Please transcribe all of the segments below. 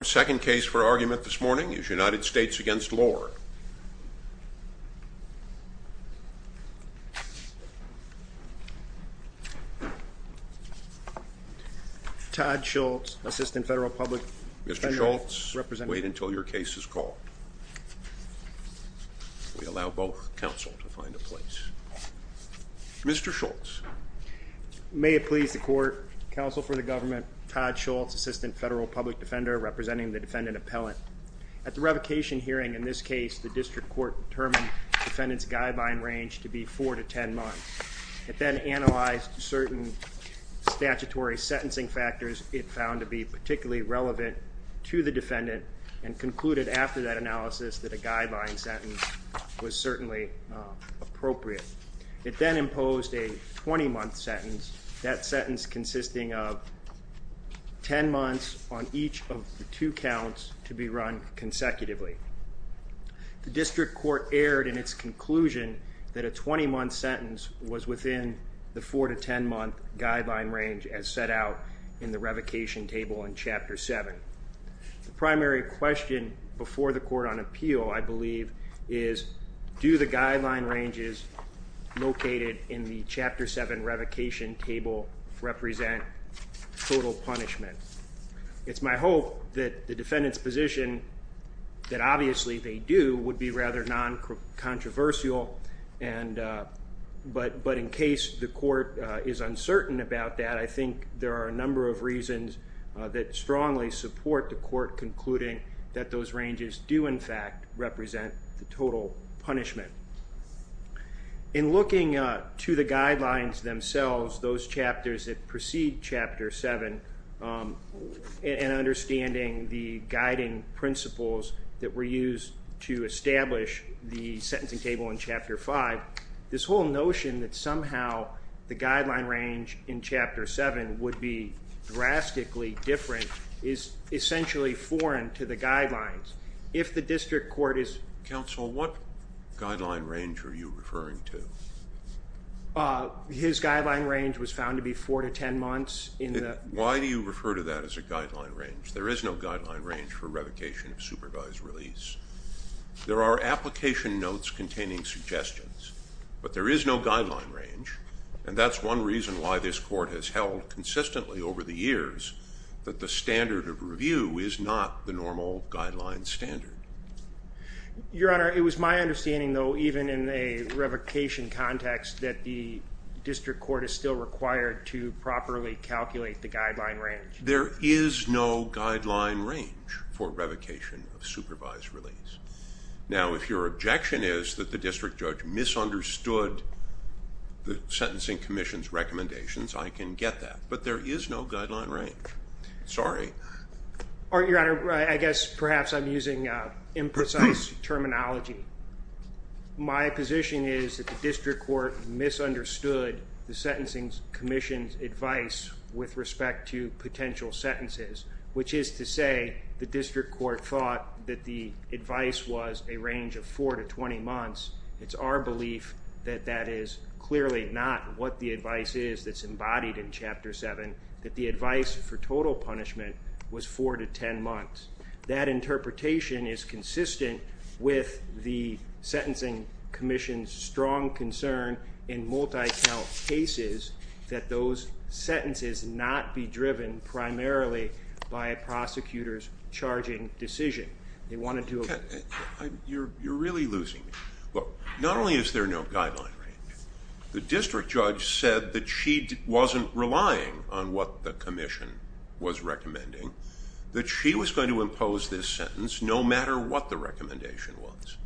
The second case for argument this morning is United States v. Lore. Todd Schultz, Assistant Federal Public Defender. Mr. Schultz, wait until your case is called. We allow both counsel to find a place. Mr. Schultz. May it please the court, counsel for the government, Todd Schultz, Assistant Federal Public Defender, representing the defendant appellant. At the revocation hearing in this case, the district court determined the defendant's guideline range to be four to ten months. It then analyzed certain statutory sentencing factors it found to be particularly relevant to the defendant and concluded after that analysis that a guideline sentence was certainly appropriate. It then imposed a twenty-month sentence, that sentence consisting of ten months on each of the two counts to be run consecutively. The district court erred in its conclusion that a twenty-month sentence was within the four to ten-month guideline range as set out in the revocation table in Chapter 7. The primary question before the court on appeal, I believe, is do the guideline ranges located in the Chapter 7 revocation table represent total punishment? It's my hope that the defendant's position, that obviously they do, would be rather non-controversial, but in case the court is uncertain about that, I think there are a number of reasons that strongly support the court concluding that those ranges do, in fact, represent the total punishment. In looking to the guidelines themselves, those chapters that precede Chapter 7, and understanding the guiding principles that were used to establish the sentencing table in Chapter 5, this whole notion that somehow the guideline range in Chapter 7 would be drastically different is essentially foreign to the guidelines. If the district court is... Counsel, what guideline range are you referring to? His guideline range was found to be four to ten months in the... Why do you refer to that as a guideline range? There is no guideline range for revocation of supervised release. There are application notes containing suggestions, but there is no guideline range, and that's one reason why this court has held consistently over the years that the standard of review is not the normal guideline standard. Your Honor, it was my understanding, though, even in a revocation context, that the district court is still required to properly calculate the guideline range. There is no guideline range for revocation of supervised release. Now, if your objection is that the district judge misunderstood the Sentencing Commission's recommendations, I can get that, but there is no guideline range. Sorry. Your Honor, I guess perhaps I'm using imprecise terminology. My position is that the district court misunderstood the Sentencing Commission's advice with respect to potential sentences, which is to say the district court thought that the advice was a range of four to twenty months. It's our belief that that is clearly not what the advice is that's embodied in Chapter 7, that the advice for total punishment was four to ten months. That interpretation is consistent with the Sentencing Commission's strong concern in multi-count cases that those sentences not be driven primarily by a prosecutor's charging decision. You're really losing me. Look, not only is there no guideline range, the district judge said that she wasn't relying on what the Commission was recommending, that she was going to impose this sentence no matter what the recommendation was,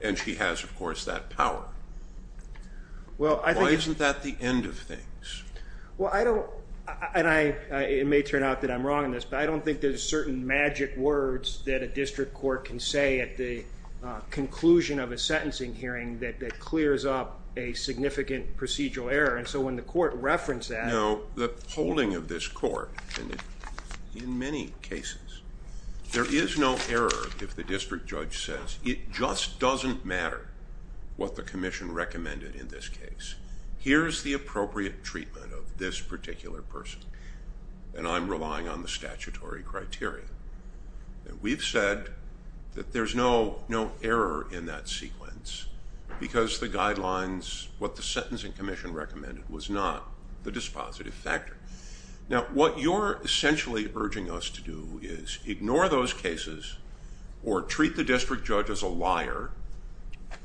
and she has, of course, that power. Why isn't that the end of things? Well, I don't, and it may turn out that I'm wrong in this, but I don't think there's certain magic words that a district court can say at the conclusion of a sentencing hearing that clears up a significant procedural error, and so when the court referenced that. You know, the holding of this court, in many cases, there is no error if the district judge says, it just doesn't matter what the Commission recommended in this case. Here's the appropriate treatment of this particular person, and I'm relying on the statutory criteria. We've said that there's no error in that sequence because the guidelines, what the Sentencing Commission recommended, was not the dispositive factor. Now, what you're essentially urging us to do is ignore those cases or treat the district judge as a liar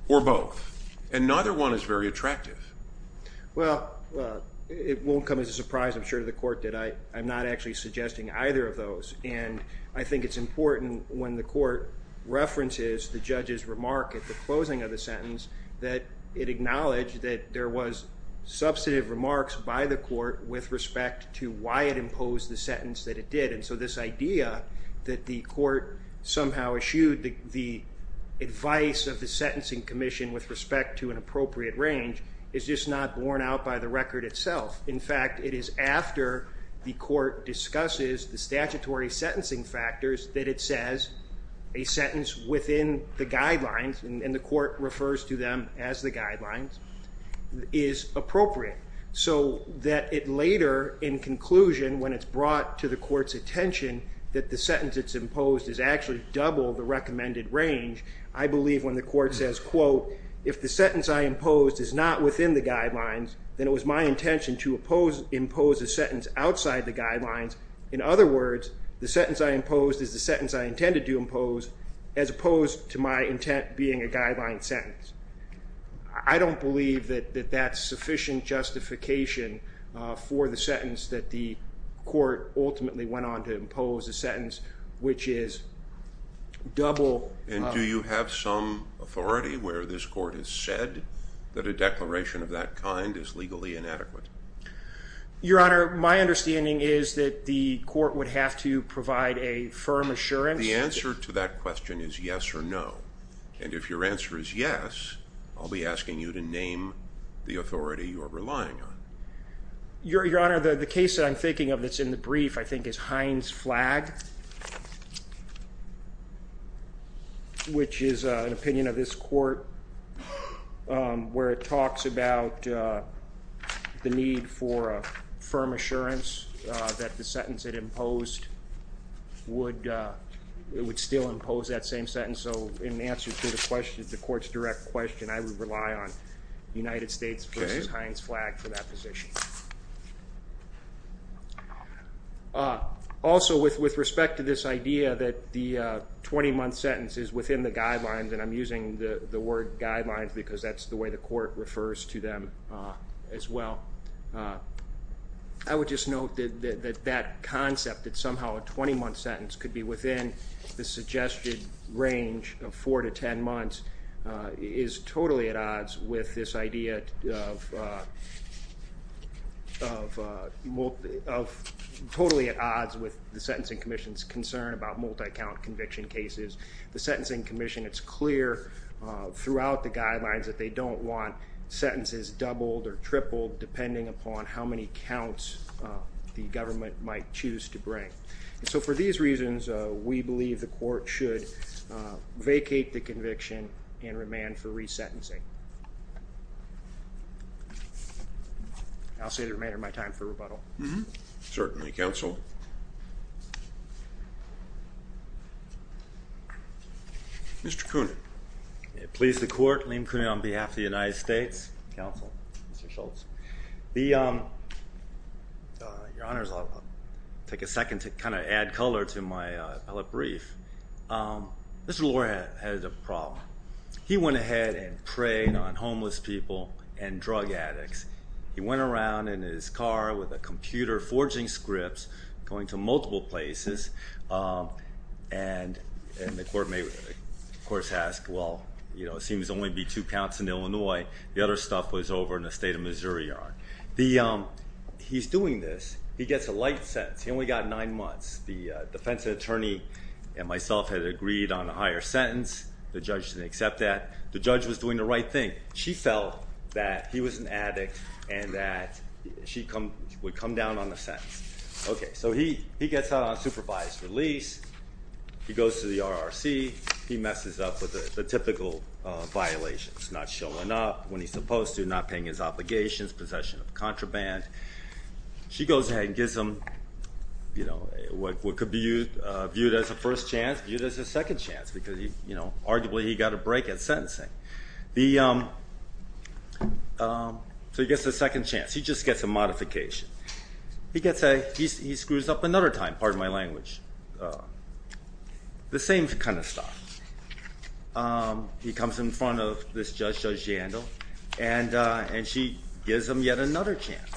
or both, and neither one is very attractive. Well, it won't come as a surprise, I'm sure, to the court that I'm not actually suggesting either of those, and I think it's important when the court references the judge's remark at the closing of the sentence that it acknowledge that there was substantive remarks by the court with respect to why it imposed the sentence that it did, and so this idea that the court somehow eschewed the advice of the Sentencing Commission with respect to an appropriate range is just not borne out by the record itself. In fact, it is after the court discusses the statutory sentencing factors that it says a sentence within the guidelines, and the court refers to them as the guidelines, is appropriate, so that it later, in conclusion, when it's brought to the court's attention that the sentence it's imposed is actually double the recommended range, I believe when the court says, quote, if the sentence I imposed is not within the guidelines, then it was my intention to impose a sentence outside the guidelines. In other words, the sentence I imposed is the sentence I intended to impose as opposed to my intent being a guideline sentence. I don't believe that that's sufficient justification for the sentence that the court ultimately went on to impose, a sentence which is double... And do you have some authority where this court has said that a declaration of that kind is legally inadequate? Your Honor, my understanding is that the court would have to provide a firm assurance... The answer to that question is yes or no, and if your answer is yes, I'll be asking you to name the authority you are relying on. Your Honor, the case that I'm thinking of that's in the brief I think is Heinz Flag, which is an opinion of this court where it talks about the need for a firm assurance that the sentence it imposed would still impose that same sentence. So in answer to the question, the court's direct question, I would rely on United States v. Heinz Flag for that position. Also, with respect to this idea that the 20-month sentence is within the guidelines, and I'm using the word guidelines because that's the way the court refers to them as well, I would just note that that concept, that somehow a 20-month sentence could be within the suggested range of 4 to 10 months, is totally at odds with this idea of... ..totally at odds with the Sentencing Commission's concern about multi-count conviction cases. The Sentencing Commission, it's clear throughout the guidelines that they don't want sentences doubled or tripled depending upon how many counts the government might choose to bring. So for these reasons, we believe the court should vacate the conviction and remand for resentencing. I'll say the remainder of my time for rebuttal. Mm-hmm. Certainly, counsel. Mr Cooner. May it please the court, Liam Cooner on behalf of the United States. Counsel. Mr Schultz. Your Honours, I'll take a second to kind of add colour to my appellate brief. Mr Lohr had a problem. He went ahead and preyed on homeless people and drug addicts. He went around in his car with a computer forging scripts, going to multiple places, and the court may, of course, ask, well, it seems there will only be two counts in Illinois. The other stuff was over in the state of Missouri. He's doing this. He gets a light sentence. He only got nine months. The defence attorney and myself had agreed on a higher sentence. The judge didn't accept that. The judge was doing the right thing. She felt that he was an addict and that she would come down on the sentence. Okay, so he gets out on supervised release. He goes to the RRC. He messes up with the typical violations, not showing up when he's supposed to, not paying his obligations, possession of contraband. She goes ahead and gives him what could be viewed as a first chance, viewed as a second chance because, arguably, he got a break at sentencing. So he gets a second chance. He just gets a modification. He screws up another time. Pardon my language. The same kind of stuff. He comes in front of this judge, Judge Jandel, and she gives him yet another chance.